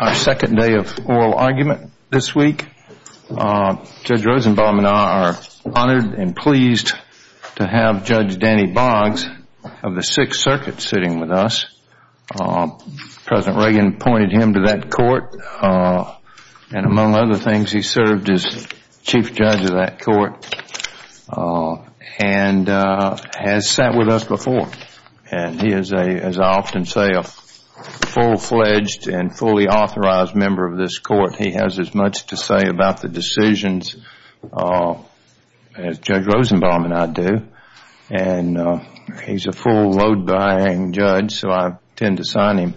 Our second day of oral argument this week. Judge Rosenbaum and I are honored and pleased to have Judge Danny Boggs of the Sixth Circuit sitting with us. President Reagan appointed him to that court and among other things he served as Chief Judge of that court and has sat with us before and he is, as I often say, a full-fledged and fully authorized member of this court. He has as much to say about the decisions as Judge Rosenbaum and I do and he's a full load-bearing judge so I tend to sign him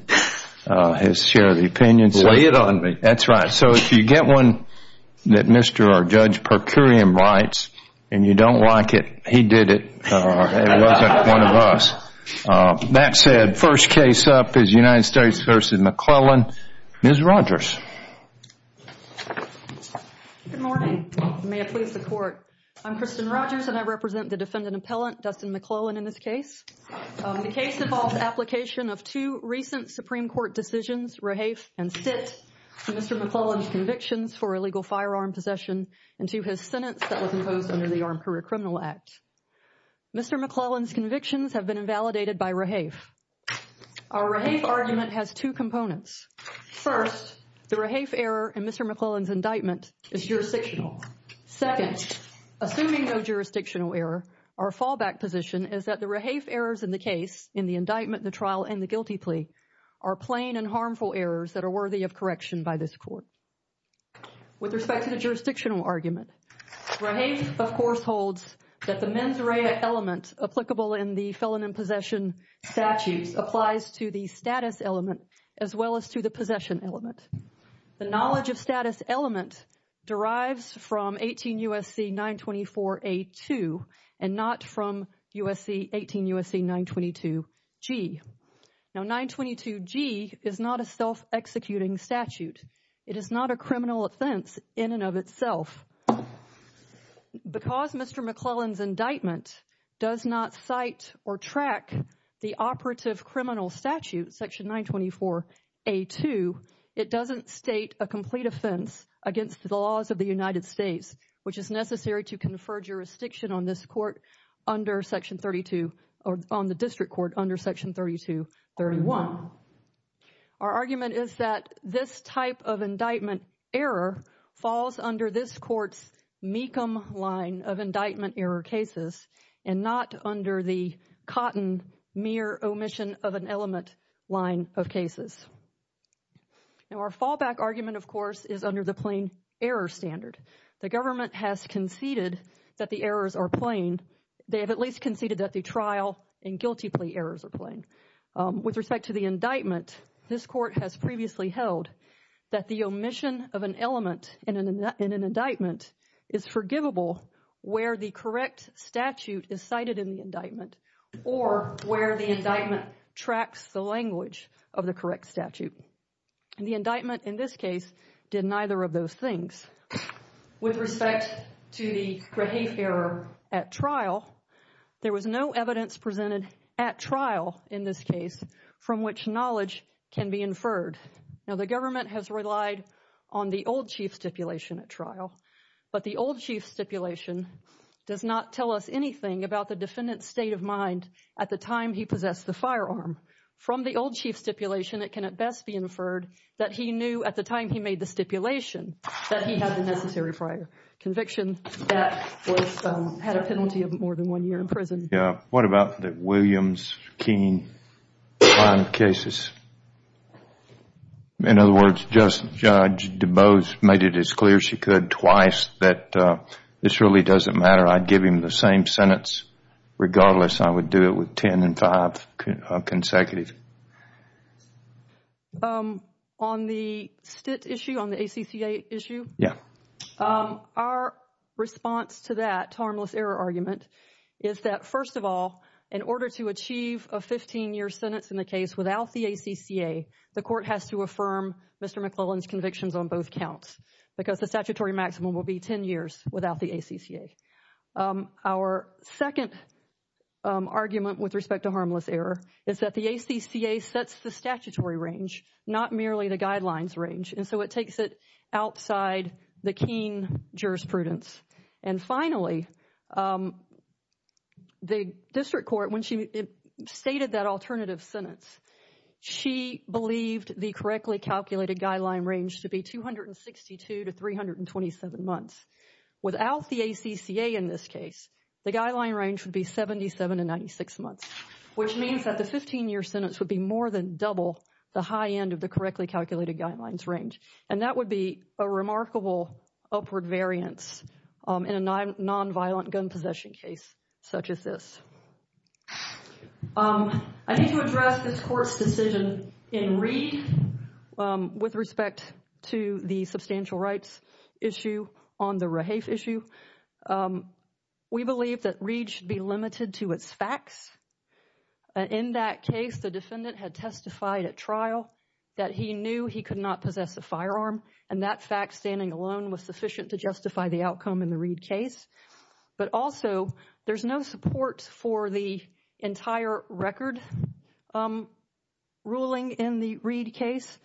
his share of the opinions. Lay it on me. That's right. So if you get one that Mr. or Judge Percurium writes and you don't like it, he did it. It wasn't one of us. That said, first case up is United States v. McLellan. Ms. Rogers Good morning. May it please the court. I'm Kristen Rogers and I represent the defendant appellant Dustin McLellan in this case. The case involves application of two recent Supreme Court decisions, rehafe and sit to Mr. McLellan's convictions for illegal firearm possession and to his sentence that was imposed under the Armed Career Criminal Act. Mr. McLellan's convictions have been invalidated by rehafe. Our rehafe argument has two components. First, the rehafe error in Mr. McLellan's indictment is jurisdictional. Second, assuming no jurisdictional error, our fallback position is that the rehafe errors in the case, in the indictment, the trial, and the guilty plea are plain and harmful errors that are worthy of correction by this court. With respect to the jurisdictional argument, rehafe of course holds that the mens rea element applicable in the felon and possession statutes applies to the status element as well as to the possession element. The knowledge of status element derives from 18 U.S.C. 924A2 and not from 18 U.S.C. 922G. Now 922G is not a self-executing statute. It is not a criminal offense in and of itself. Because Mr. McLellan's indictment does not cite or track the operative criminal statute, section 924A2, it doesn't state a complete offense against the laws of the United States, which is necessary to confer jurisdiction on this court under section 32 or on the district court under section 3231. Our argument is that this type of indictment error falls under this court's Mecham line of indictment error cases and not under the Cotton mere omission of an element line of cases. Now our fallback argument, of course, is under the plain error standard. The government has conceded that the errors are plain. They have at least conceded that the trial and guilty plea errors are plain. With respect to the indictment, this court has previously held that the omission of an element in an indictment is forgivable where the correct statute is cited in the indictment or where the indictment tracks the language of the correct statute. And the indictment in this case did neither of those things. With respect to the grave error at trial, there was no evidence presented at trial in this case from which knowledge can be inferred. Now the government has relied on the old chief stipulation at trial, but the old chief stipulation does not tell us anything about the defendant's state of mind at the time he possessed the firearm. From the old chief stipulation, it can at best be inferred that he knew at the time he made the stipulation that he had the necessary prior conviction that had a penalty of more than one year in prison. Yeah, what about the Williams, Keene crime cases? In other words, Judge DuBose made it as clear as she could twice that this really doesn't matter. I'd give him the same sentence regardless. I would do it with ten and five consecutive. On the STIT issue, on the ACCA issue, our response to to achieve a 15-year sentence in the case without the ACCA, the court has to affirm Mr. McClellan's convictions on both counts because the statutory maximum will be ten years without the ACCA. Our second argument with respect to harmless error is that the ACCA sets the statutory range, not merely the guidelines range, and so it takes it outside the Keene jurisprudence. And finally, the district court, when she stated that alternative sentence, she believed the correctly calculated guideline range to be 262 to 327 months. Without the ACCA in this case, the guideline range would be 77 to 96 months, which means that the 15-year sentence would be more than double the high end of the correctly calculated guidelines range. And that would be a remarkable upward variance in a nonviolent gun possession case such as this. I need to address this court's decision in Reed with respect to the substantial rights issue on the Rahafe issue. We believe that Reed should be limited to its facts. In that case, the defendant had testified at trial that he knew he could not possess a firearm, and that fact standing alone was sufficient to justify the outcome in the Reed case. But also, there's no support for the entire record ruling in the Reed case.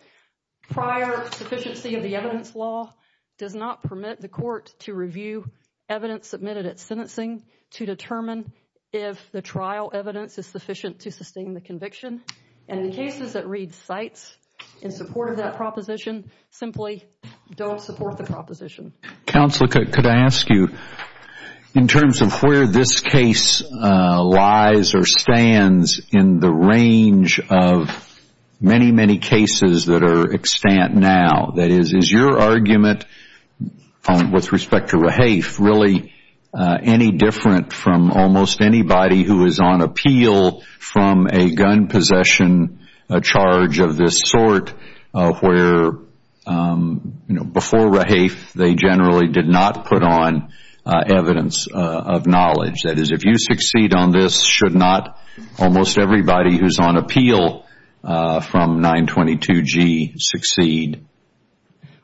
Prior sufficiency of the evidence law does not permit the court to review evidence submitted at sentencing to determine if the trial evidence is sufficient to sustain the conviction. And the cases that Reed cites in support of that proposition simply don't support the proposition. Counselor, could I ask you, in terms of where this case lies or stands in the range of many, many cases that are extant now, that is, is your argument with respect to Rahafe really any different from almost anybody who is on appeal from a gun possession charge of this sort, where before Rahafe they generally did not put on evidence of knowledge? That is, if you succeed on this, should not almost everybody who is on appeal from 922G succeed?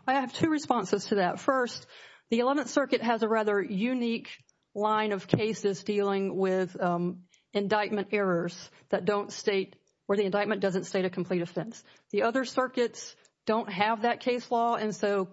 I have two responses to that. First, the Eleventh Circuit has a rather unique line of cases dealing with indictment errors that don't state, or the other circuits don't have that case law, and so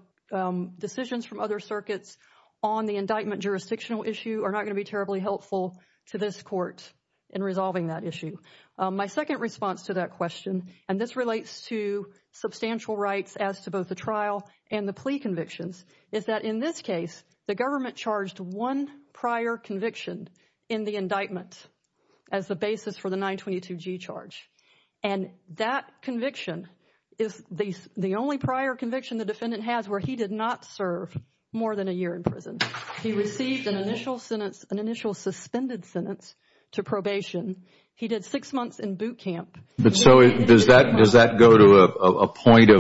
decisions from other circuits on the indictment jurisdictional issue are not going to be terribly helpful to this court in resolving that issue. My second response to that question, and this relates to substantial rights as to both the trial and the plea convictions, is that in this case the government charged one prior conviction in the indictment as the basis for the 922G charge. And that conviction is the only prior conviction the defendant has where he did not serve more than a year in prison. He received an initial suspended sentence to probation. He did six months in boot camp. Does that go to a point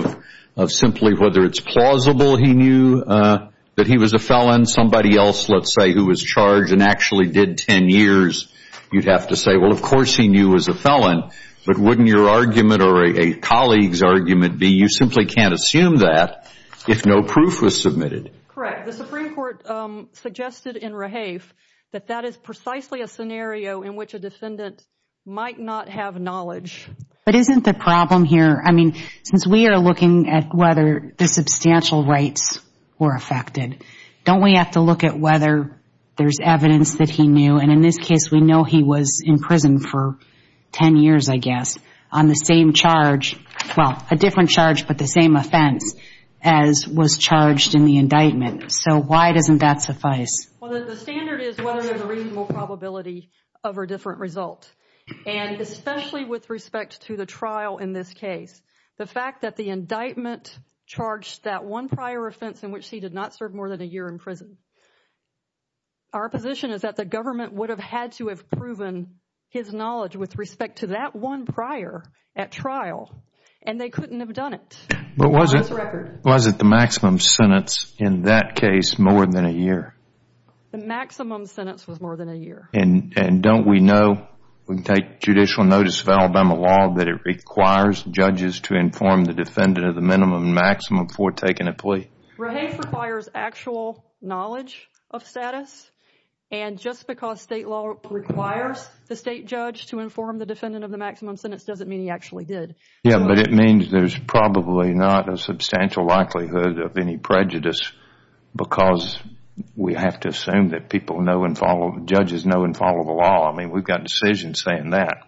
of simply whether it's plausible he knew that he was a felon? Somebody else, let's say, who was charged and actually did ten years, you'd have to say, well, of course he knew he was a felon, but wouldn't your argument or a colleague's argument be you simply can't assume that if no proof was submitted? Correct. The Supreme Court suggested in Rahafe that that is precisely a scenario in which a defendant might not have knowledge. But isn't the problem here, I mean, since we are looking at whether the substantial rights were affected, don't we have to look at whether there's evidence that he knew, and in this case we know he was in prison for ten years, I guess, on the same charge, well, a different charge, but the same offense as was charged in the indictment. So why doesn't that suffice? Well, the standard is whether there's a reasonable probability of a different result. And especially with respect to the trial in this case, the fact that the indictment charged that one prior offense in which he did not serve more than a year in prison. Our position is that the government would have had to have proven his knowledge with respect to that one prior at trial, and they couldn't have done it. But was it the maximum sentence in that case more than a year? The maximum sentence was more than a year. And don't we know we can take judicial notice of Alabama law that it requires judges Rahay requires actual knowledge of status and just because state law requires the state judge to inform the defendant of the maximum sentence doesn't mean he actually did. Yeah, but it means there's probably not a substantial likelihood of any prejudice because we have to assume that people know and follow judges know and follow the law. I mean, we've got decisions saying that.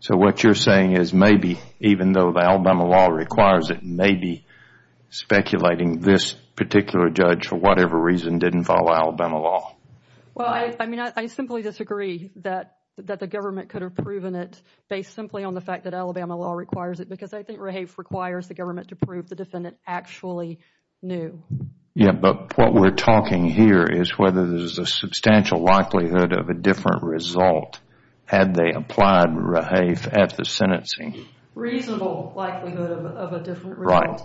So what you're saying is maybe even though the Alabama law requires it, maybe speculating this particular judge for whatever reason didn't follow Alabama law. Well, I mean, I simply disagree that the government could have proven it based simply on the fact that Alabama law requires it because I think Rahay requires the government to prove the defendant actually knew. Yeah, but what we're talking here is whether there's a substantial likelihood of a different result had they applied Rahay at the sentencing. Reasonable likelihood of a different result.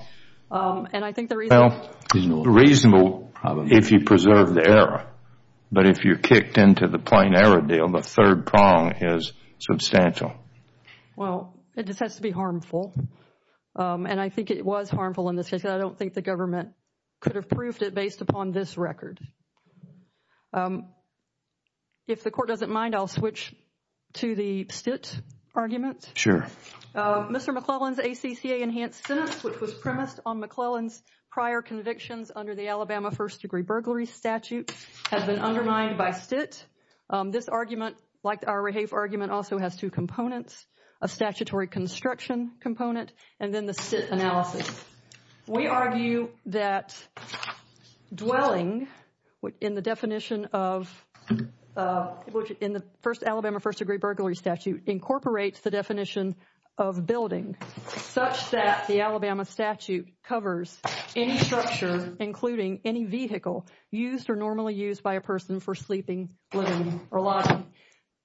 Right. And I think the reason Reasonable if you preserve the error. But if you're kicked into the plain error deal, the third prong is substantial. Well, it just has to be harmful. And I think it was harmful in this case because I don't think the government could have proved it based upon this record. If the court doesn't mind, I'll switch to the Stitt argument. Sure. Mr. McClellan's ACCA enhanced sentence, which was premised on McClellan's prior convictions under the Alabama first degree burglary statute, has been undermined by Stitt. This argument like our Rahay argument also has two components. A statutory construction component and then the Stitt analysis. We argue that dwelling in the definition of which in the Alabama first degree burglary statute incorporates the definition of building such that the Alabama statute covers any structure including any vehicle used or normally used by a person for sleeping living or lodging.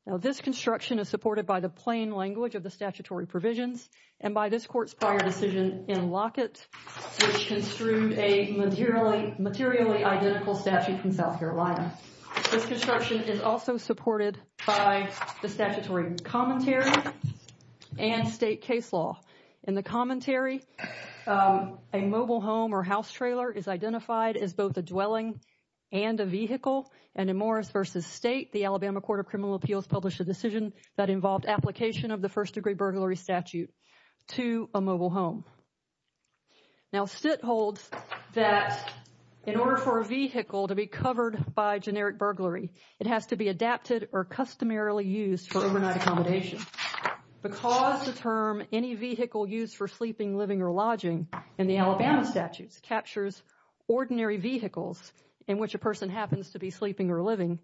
Now, this construction is supported by the plain language of the statutory provisions and by this court's prior decision in Lockett, which construed a materially identical statute from South Carolina. This construction is also supported by the statutory commentary and state case law. In the commentary, a mobile home or house trailer is identified as both a dwelling and a vehicle and in Morris v. State, the Alabama Court of Criminal Appeals published a decision that involved application of the first degree burglary statute to a mobile home. Now, Stitt holds that in order for a vehicle to be covered by a vehicle adapted or customarily used for overnight accommodation because the term any vehicle used for sleeping, living, or lodging in the Alabama statutes captures ordinary vehicles in which a person happens to be sleeping or living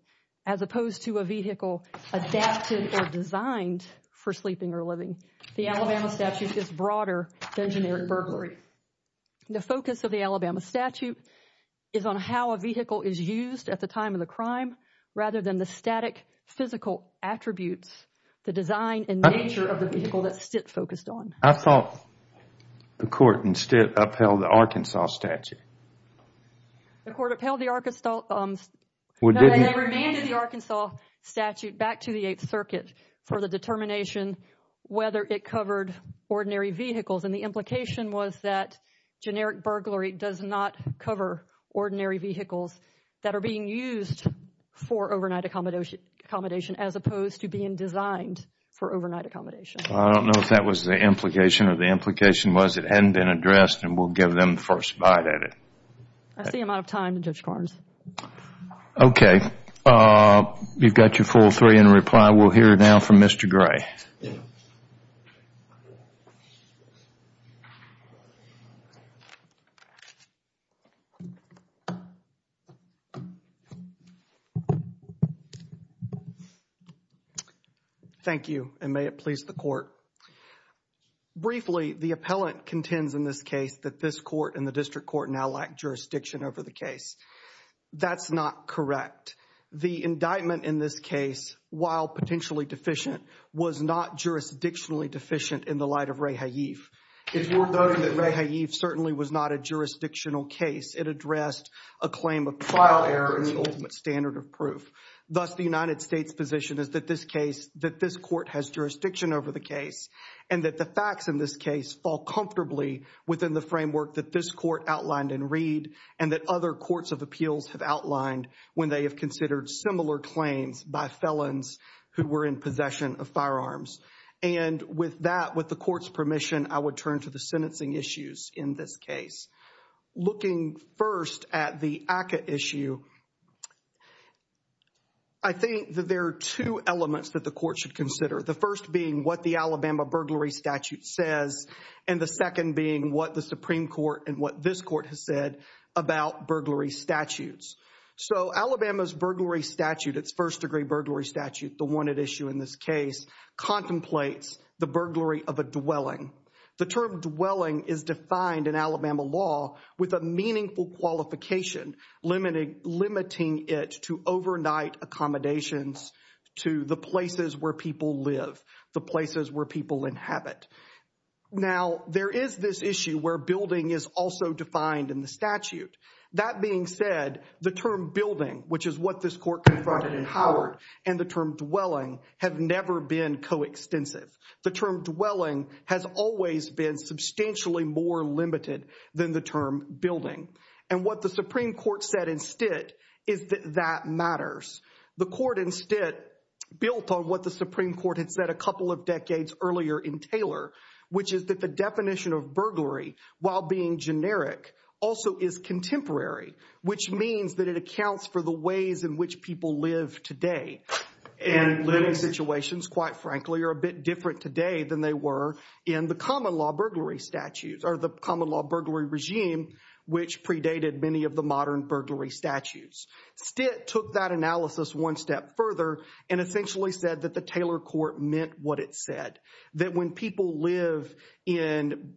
as opposed to a vehicle adapted or designed for sleeping or living. The Alabama statute is broader than generic burglary. The focus of the Alabama statute is on how a vehicle is used at the time of the crime rather than the static physical attributes, the design and nature of the vehicle that Stitt focused on. I thought the court instead upheld the Arkansas statute. The court upheld the Arkansas statute and remanded the Arkansas statute back to the Eighth Circuit for the determination whether it covered ordinary vehicles and the implication was that generic burglary does not cover ordinary vehicles that are being used for overnight accommodation as opposed to being designed for overnight accommodation. I don't know if that was the implication or the implication was it hadn't been addressed and we'll give them the first bite at it. I see I'm out of time, Judge Carnes. Okay. You've got your full three in reply. We'll hear now from Mr. Gray. Thank you. Thank you and may it please the court. Briefly, the appellant contends in this case that this court and the district court now lack jurisdiction over the case. That's not correct. The indictment in this case while potentially deficient was not jurisdictionally deficient in the light of Ray Haif. It's worth noting that Ray Haif certainly was not a jurisdictional case. It addressed a claim of trial error in the ultimate standard of proof. Thus, the United States position is that this case that this court has jurisdiction over the case and that the facts in this case fall comfortably within the framework that this court outlined in Reed and that other courts of appeals have outlined when they have considered similar claims by felons who were in possession of firearms. And with that, with the court's permission, I would turn to the looking first at the ACCA issue. I think that there are two elements that the court should consider. The first being what the Alabama burglary statute says and the second being what the Supreme Court and what this court has said about burglary statutes. So Alabama's burglary statute, its first degree burglary statute, the one at issue in this case contemplates the burglary of a dwelling. The term dwelling is defined in Alabama law with a meaningful qualification limiting it to overnight accommodations to the places where people live, the places where people inhabit. Now, there is this issue where building is also defined in the statute. That being said, the term building, which is what this court confronted in Howard, and the term dwelling have never been coextensive. The term dwelling has always been substantially more limited than the term building. And what the Supreme Court said instead is that that matters. The court instead built on what the Supreme Court had said a couple of decades earlier in Taylor, which is that the definition of burglary, while being generic, also is contemporary, which means that it accounts for the ways in which people live today. And living situations, quite frankly, are a bit different today than they were in the common law burglary statutes or the common law burglary regime, which predated many of the modern burglary statutes. Stitt took that analysis one step further and essentially said that the Taylor court meant what it said. That when people live in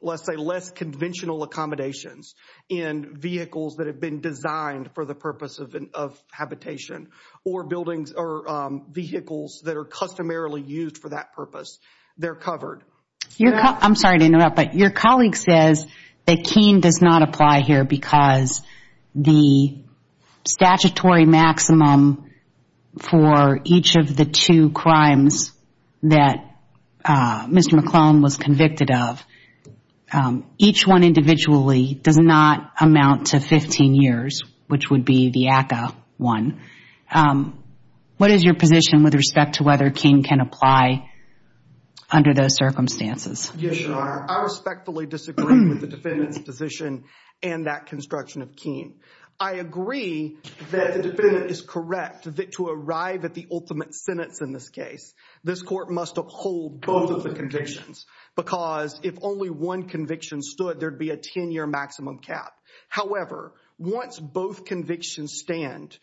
less conventional accommodations and vehicles that have been designed for the purpose of habitation or vehicles that are customarily used for that purpose, they're covered. Your colleague says that Keene does not apply here because the statutory maximum for each of the two crimes that Mr. McClellan was convicted of, each one individually does not amount to 15 years, which would be the ACA one. What is your position with respect to whether Keene can apply under those circumstances? Yes, Your Honor. I respectfully disagree with the defendant's position and that construction of Keene. I agree that the defendant is correct that to arrive at the ultimate sentence in this case, this court must uphold both of the convictions because if only one conviction stood, there'd be a 10-year maximum cap. However, once both convictions stand,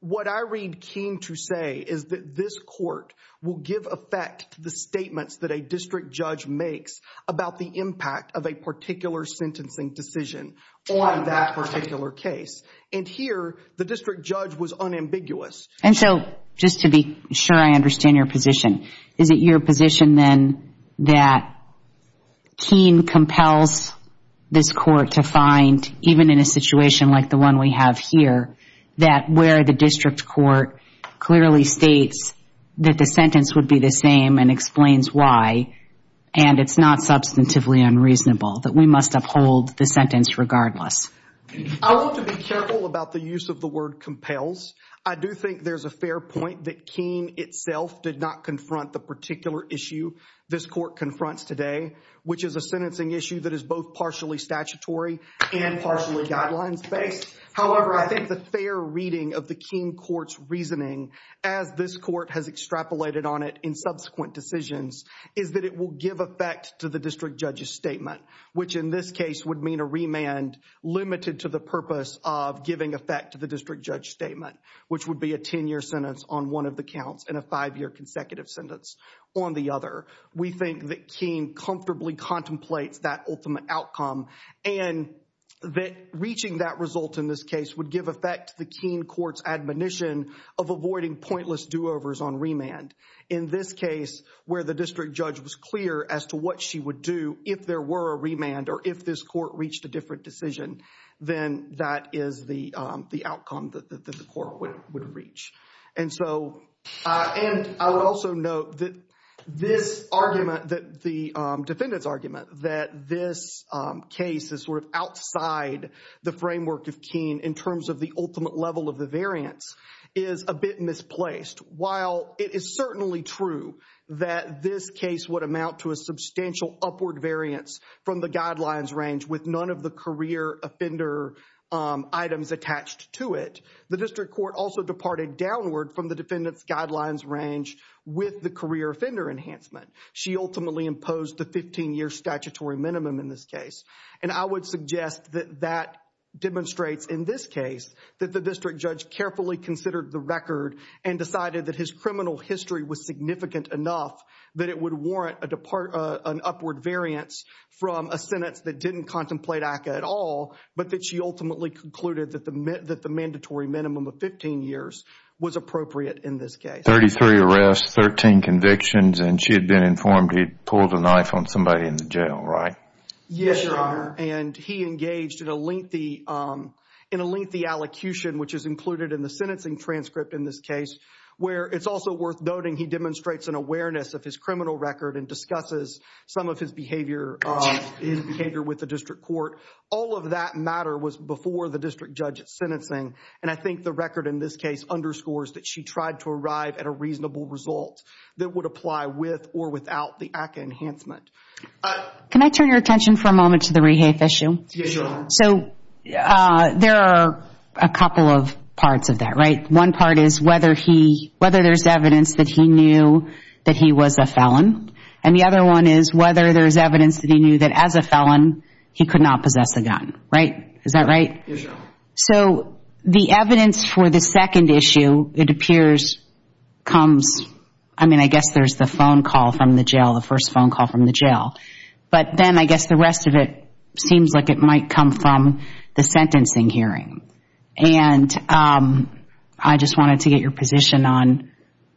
what I read Keene to say is that this court will give effect to the statements that a district judge makes about the impact of a particular sentencing decision on that particular case. And here, the district judge was unambiguous. Just to be sure I understand your position, is it your position then that Keene compels this court to find, even in a situation like the one we have here, that where the district court clearly states that the sentence would be the same and explains why and it's not substantively unreasonable, that we must uphold the sentence regardless? I want to be careful about the use of the word compels. I do think there's a fair point that Keene itself did not confront the particular issue this court confronts today, which is a sentencing issue that is both partially statutory and partially guidelines-based. However, I think the fair reading of the Keene court's reasoning, as this court has extrapolated on it in subsequent decisions, is that it will give effect to the district judge's statement, which in this case would mean a remand limited to the purpose of giving effect to the district judge's statement, which would be a 10-year sentence on one of the counts and a 5-year consecutive sentence on the other. We think that Keene comfortably contemplates that ultimate outcome and that reaching that result in this case would give effect to the Keene court's admonition of avoiding pointless do-overs on remand. In this case, where the district judge was clear as to what she would do if there were a remand or if this court reached a different decision, then that is the outcome that the court would reach. And I would also note that this argument, the defendant's argument that this case is sort of outside the framework of Keene in terms of the ultimate level of the variance is a bit misplaced. While it is certainly true that this case would amount to a substantial upward variance from the guidelines range with none of the career offender items attached to it, the district court also departed downward from the defendant's guidelines range with the career offender enhancement. She ultimately imposed the 15-year statutory minimum in this case. And I would suggest that that demonstrates in this case that the district judge carefully considered the record and decided that his criminal history was significant enough that it would warrant an upward variance from a sentence that didn't contemplate ACCA at all, but that she ultimately concluded that the mandatory minimum of 15 years was appropriate in this case. 33 arrests, 13 convictions, and she had been informed he had pulled a knife on somebody in the jail, right? Yes, Your Honor. And he engaged in a lengthy in a lengthy allocution, which is included in the sentencing transcript in this case, where it's also worth noting he demonstrates an awareness of his criminal record and discusses some of his behavior with the district court. All of that matter was before the district judge's sentencing, and I think the record in this case underscores that she tried to arrive at a reasonable result that would apply with or without the ACCA enhancement. Can I turn your attention for a moment to the rehafe issue? Yes, Your Honor. So, there are a couple of parts of that, right? One part is whether there's evidence that he knew that he was a felon, and the other one is whether there's evidence that he knew that as a felon, he could not possess a gun. Right? Is that right? Yes, Your Honor. So, the evidence for the second issue, it appears, comes, I mean I guess there's the phone call from the jail, the first phone call from the jail. But then I guess the rest of it seems like it might come from the sentencing hearing. And I just wanted to get your position on,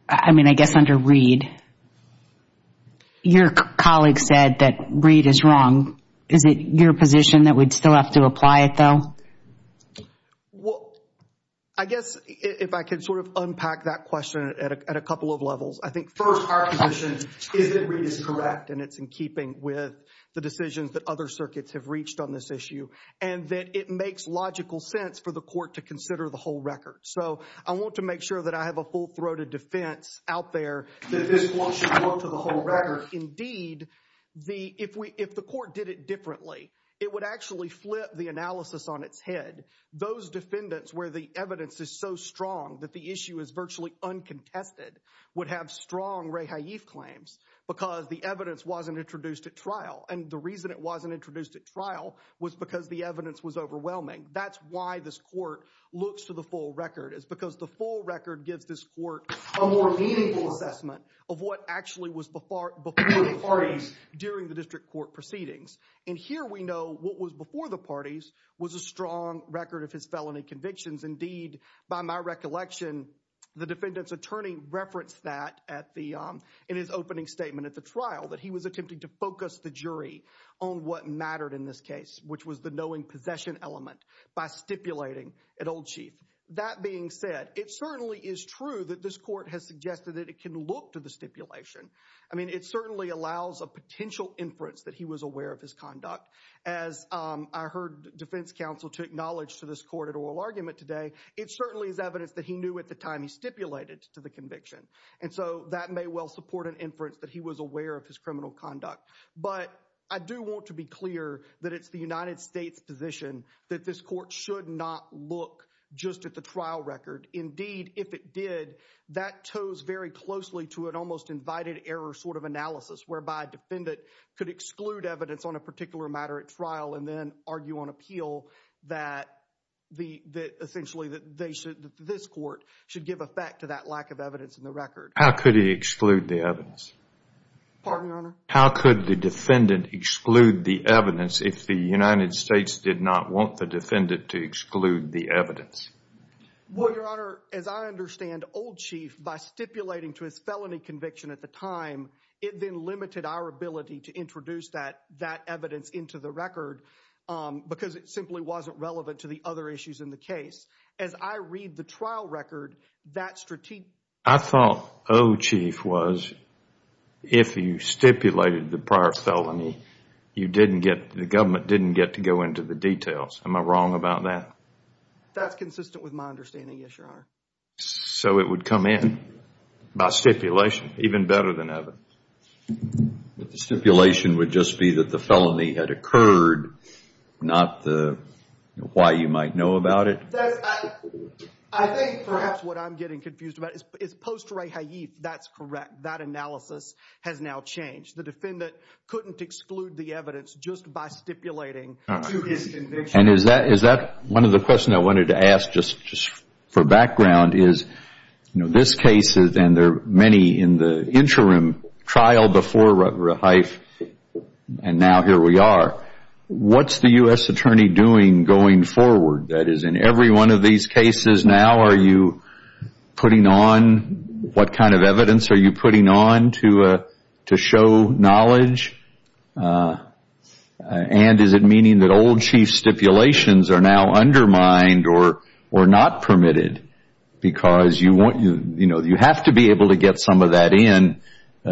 I mean I guess under Reed, your colleague said that Reed is wrong. Is it your position that we'd still have to apply it, though? Well, I guess if I could sort of unpack that question at a couple of levels. I think first, our position is that Reed is correct, and it's in keeping with the decisions that other circuits have reached on this issue. And that it makes logical sense for the court to consider the whole record. So, I want to make sure that I have a full-throated defense If the court did it differently, it would actually flip the analysis on its head. Those defendants where the evidence is so strong that the issue is virtually uncontested would have strong re-haif claims because the evidence wasn't introduced at trial. And the reason it wasn't introduced at trial was because the evidence was overwhelming. That's why this court looks to the full record. It's because the full record gives this court a more meaningful assessment of what actually was before the parties during the district court proceedings. And here we know what was before the parties was a strong record of his felony convictions. Indeed, by my recollection, the defendant's attorney referenced that in his opening statement at the trial, that he was attempting to focus the jury on what mattered in this case, which was the knowing possession element by stipulating at Old Chief. That being said, it certainly is true that this court has a knowing possession. I mean, it certainly allows a potential inference that he was aware of his conduct. As I heard defense counsel to acknowledge to this court at oral argument today, it certainly is evidence that he knew at the time he stipulated to the conviction. And so that may well support an inference that he was aware of his criminal conduct. But I do want to be clear that it's the United States position that this court should not look just at the trial record. Indeed, if it did, that toes very closely to an almost invited error sort of analysis, whereby a defendant could exclude evidence on a particular matter at trial and then argue on appeal that essentially this court should give effect to that lack of evidence in the record. How could he exclude the evidence? Pardon, Your Honor? How could the defendant exclude the evidence if the United States did not want the defendant to exclude the evidence? Well, Your Honor, as I understand, Old Chief, by stipulating to his felony conviction at the time, it then limited our ability to introduce that evidence into the record because it simply wasn't relevant to the other issues in the case. As I read the trial record, that strategic... I thought Old Chief was if you stipulated the prior felony, you didn't get, the government didn't get to go into the details. Am I wrong about that? That's consistent with my understanding, yes, Your Honor. So it would come in by stipulation, even better than evidence. The stipulation would just be that the felony had occurred, not the why you might know about it? I think perhaps what I'm getting confused about is post-ray haif, that's correct. That analysis has now changed. The defendant couldn't exclude the evidence just by stipulating to his The question I wanted to ask, just for background, is this case, and there are many in the interim trial before ray haif, and now here we are, what's the U.S. Attorney doing going forward? That is, in every one of these cases now, are you putting on what kind of evidence? Are you putting on to show knowledge? And is it meaning that Old Chief stipulations are now undermined or not permitted because you have to be able to get some of that in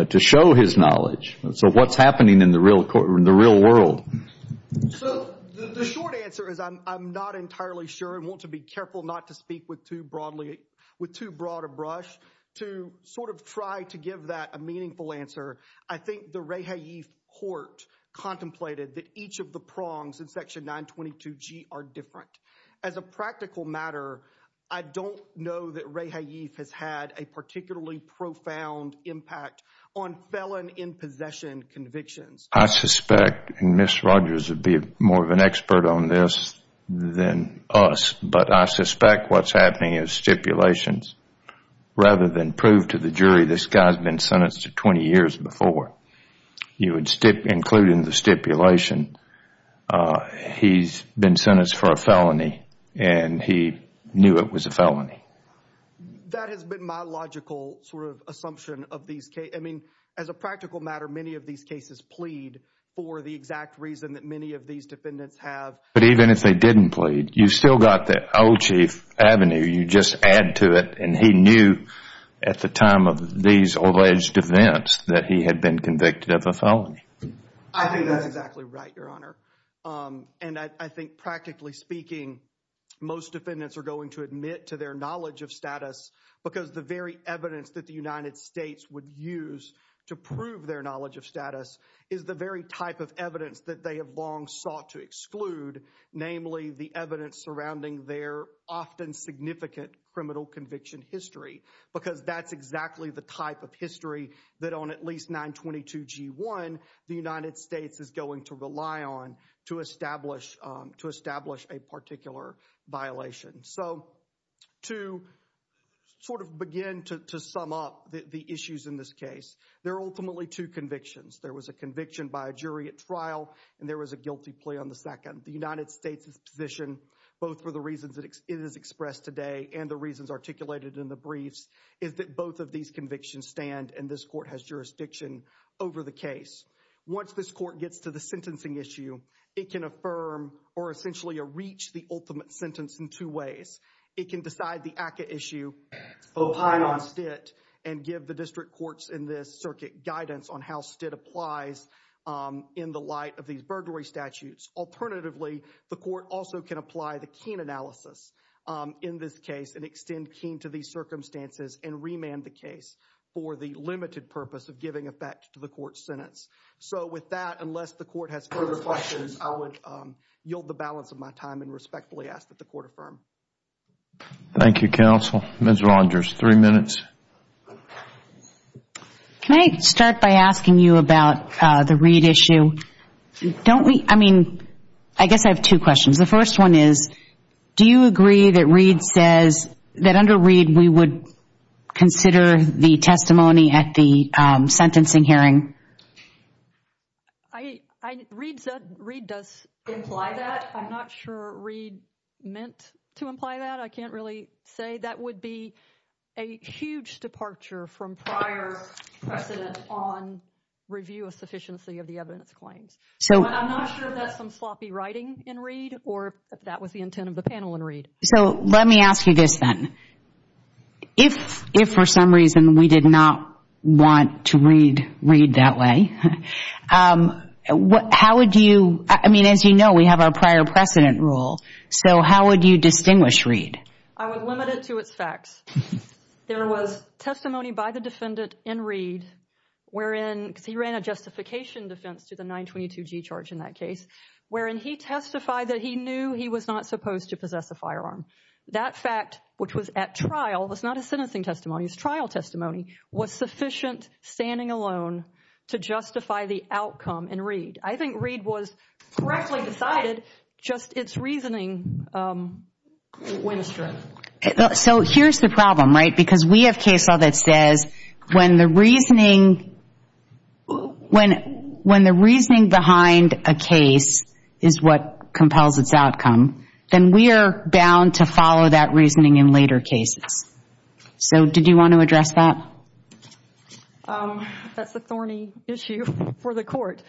to show his knowledge? So what's happening in the real world? So the short answer is I'm not entirely sure and want to be careful not to speak with too broadly, with too broad a brush, to sort of try to give that a meaningful answer. I think the ray haif court contemplated that each of the prongs in section 922G are different. As a practical matter, I don't know that ray haif has had a particularly profound impact on felon in possession convictions. I suspect, and Ms. Rogers would be more of an expert on this than us, but I suspect what's happening is stipulations, rather than prove to the jury this guy's been sentenced to 20 years before. You would include in the stipulation he's been sentenced for a felony and he knew it was a felony. That has been my logical sort of assumption of these cases. I mean, as a practical matter, many of these cases plead for the exact reason that many of these defendants have. But even if they didn't plead, you still got the Old Chief avenue. You just add to it, and he knew at the time of these alleged events that he had been convicted of a felony. I think that's exactly right, your honor. And I think practically speaking, most defendants are going to admit to their knowledge of status because the very evidence that the United States would use to prove their knowledge of status is the very type of evidence that they have long sought to exclude, namely the evidence surrounding their often significant criminal conviction history. Because that's exactly the type of history that on at least 922 G1, the United States is going to rely on to establish a particular violation. So, to sort of begin to sum up the issues in this case, there are ultimately two convictions. There was a conviction by a jury at trial, and there was a guilty plea on the second. The United States' position, both for the reasons it is expressed today and the reasons articulated in the briefs, is that both of these convictions stand and this court has jurisdiction over the case. Once this court gets to the sentencing issue, it can affirm or essentially reach the ultimate sentence in two ways. It can decide the ACCA issue both high on stint and give the district courts in this circuit guidance on how stint applies in the light of these burglary statutes. Alternatively, the court also can apply the keen analysis in this case and extend keen to these circumstances and remand the case for the limited purpose of giving effect to the court's sentence. So, with that, unless the court has further questions, I would yield the balance of my time and respectfully ask that the court affirm. Thank you, counsel. Ms. Rogers, three minutes. Can I start by asking you about the Reed issue? Don't we, I mean, I guess I have two questions. The first one is, do you agree that Reed says that under Reed we would consider the testimony at the sentencing hearing? Reed does imply that. I'm not sure Reed meant to imply that. I can't really say. That would be a huge departure from prior precedent on review of sufficiency of the evidence claims. I'm not sure if that's some sloppy writing in Reed or if that was the intent of the panel in Reed. So, let me ask you this then. If, for some reason, we did not want to read Reed that way, how would you I mean, as you know, we have our prior precedent rule, so how would you distinguish Reed? I would limit it to its facts. There was testimony by the defendant in Reed wherein, because he ran a justification defense to the 922G charge in that case, wherein he testified that he knew he was not supposed to possess a firearm. That fact, which was at trial, was not a sentencing testimony. It was trial testimony was sufficient, standing alone, to justify the outcome in Reed. I think Reed was correctly decided, just its reasoning went astray. So, here's the problem, right? Because we have case law that says when the reasoning behind a case is what compels its outcome, then we are bound to follow that reasoning in later cases. So, did you want to address that? That's a thorny issue for the court.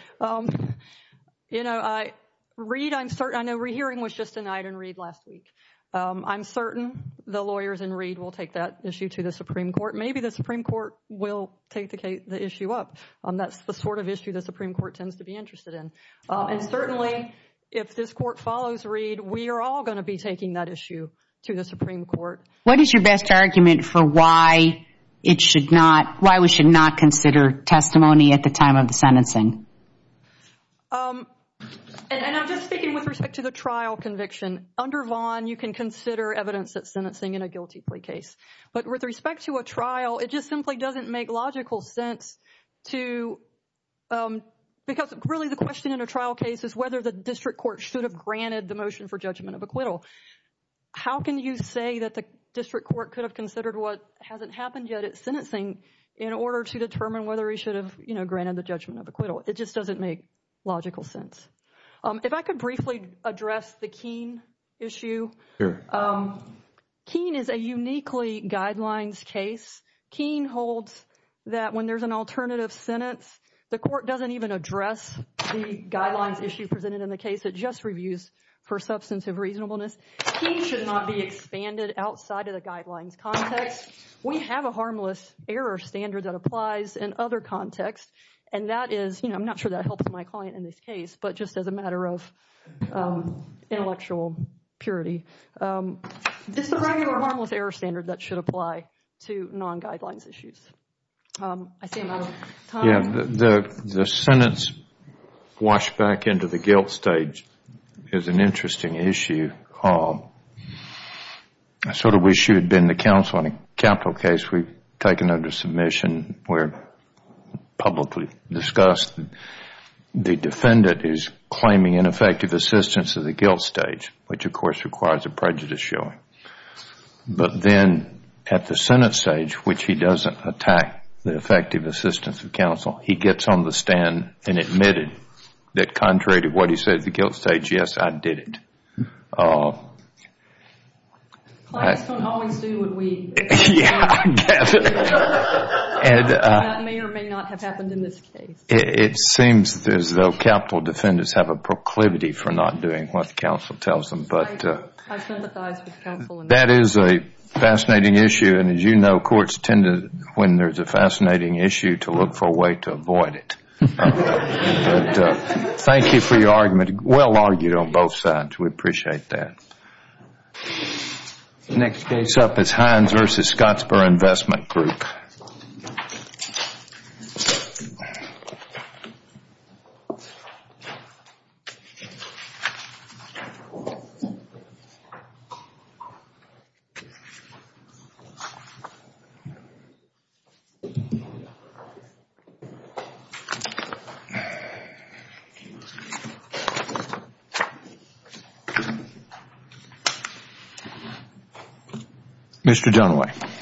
Reed, I'm certain, I know re-hearing was just denied in Reed last week. I'm certain the lawyers in Reed will take that issue to the Supreme Court. Maybe the Supreme Court will take the issue up. That's the sort of issue the Supreme Court tends to be interested in. And certainly, if this court follows Reed, we are all going to be taking that issue to the Supreme Court. What is your best argument for why it should not, why we should not consider testimony at the time of the sentencing? And I'm just speaking with respect to the trial conviction. Under Vaughn, you can consider evidence that's sentencing in a guilty plea case. But with respect to a trial, it just simply doesn't make logical sense to because really the question in a trial case is whether the district court should have granted the motion for judgment of acquittal. How can you say that the district court could have considered what hasn't happened yet at sentencing in order to determine whether he should have granted the judgment of acquittal? It just doesn't make logical sense. If I could briefly address the Keene issue. Keene is a uniquely guidelines case. Keene holds that when there's an alternative sentence, the court doesn't even address the guidelines issue presented in the case. It just reviews for substantive reasonableness. Keene should not be expanded outside of the guidelines context. We have a harmless error standard that applies in other contexts and that is, you know, I'm not sure that helps my client in this case, but just as a matter of intellectual purity. This is a regular harmless error standard that should apply to non-guidelines issues. The sentence washed back into the guilt stage is an interesting issue. I sort of wish you had been the counsel on a capital case we've taken under submission where publicly discussed the defendant is claiming ineffective assistance of the guilt stage, which of course requires a prejudice showing. But then at the sentence stage, which he doesn't attack the effective assistance of counsel, he gets on the stand and admitted that contrary to what he said at the guilt stage, yes, I did it. Clients don't always do what we expect. It may or may not have happened in this case. It seems as though capital defendants have a proclivity for not doing what the counsel tells them. That is a fascinating issue and as you know, courts tend to, when there's a fascinating issue, to look for a way to avoid it. Thank you for your argument. Well argued on both sides. We appreciate that. Next case up is Hines v. Scottsboro Investment Group. Mr. Dunway.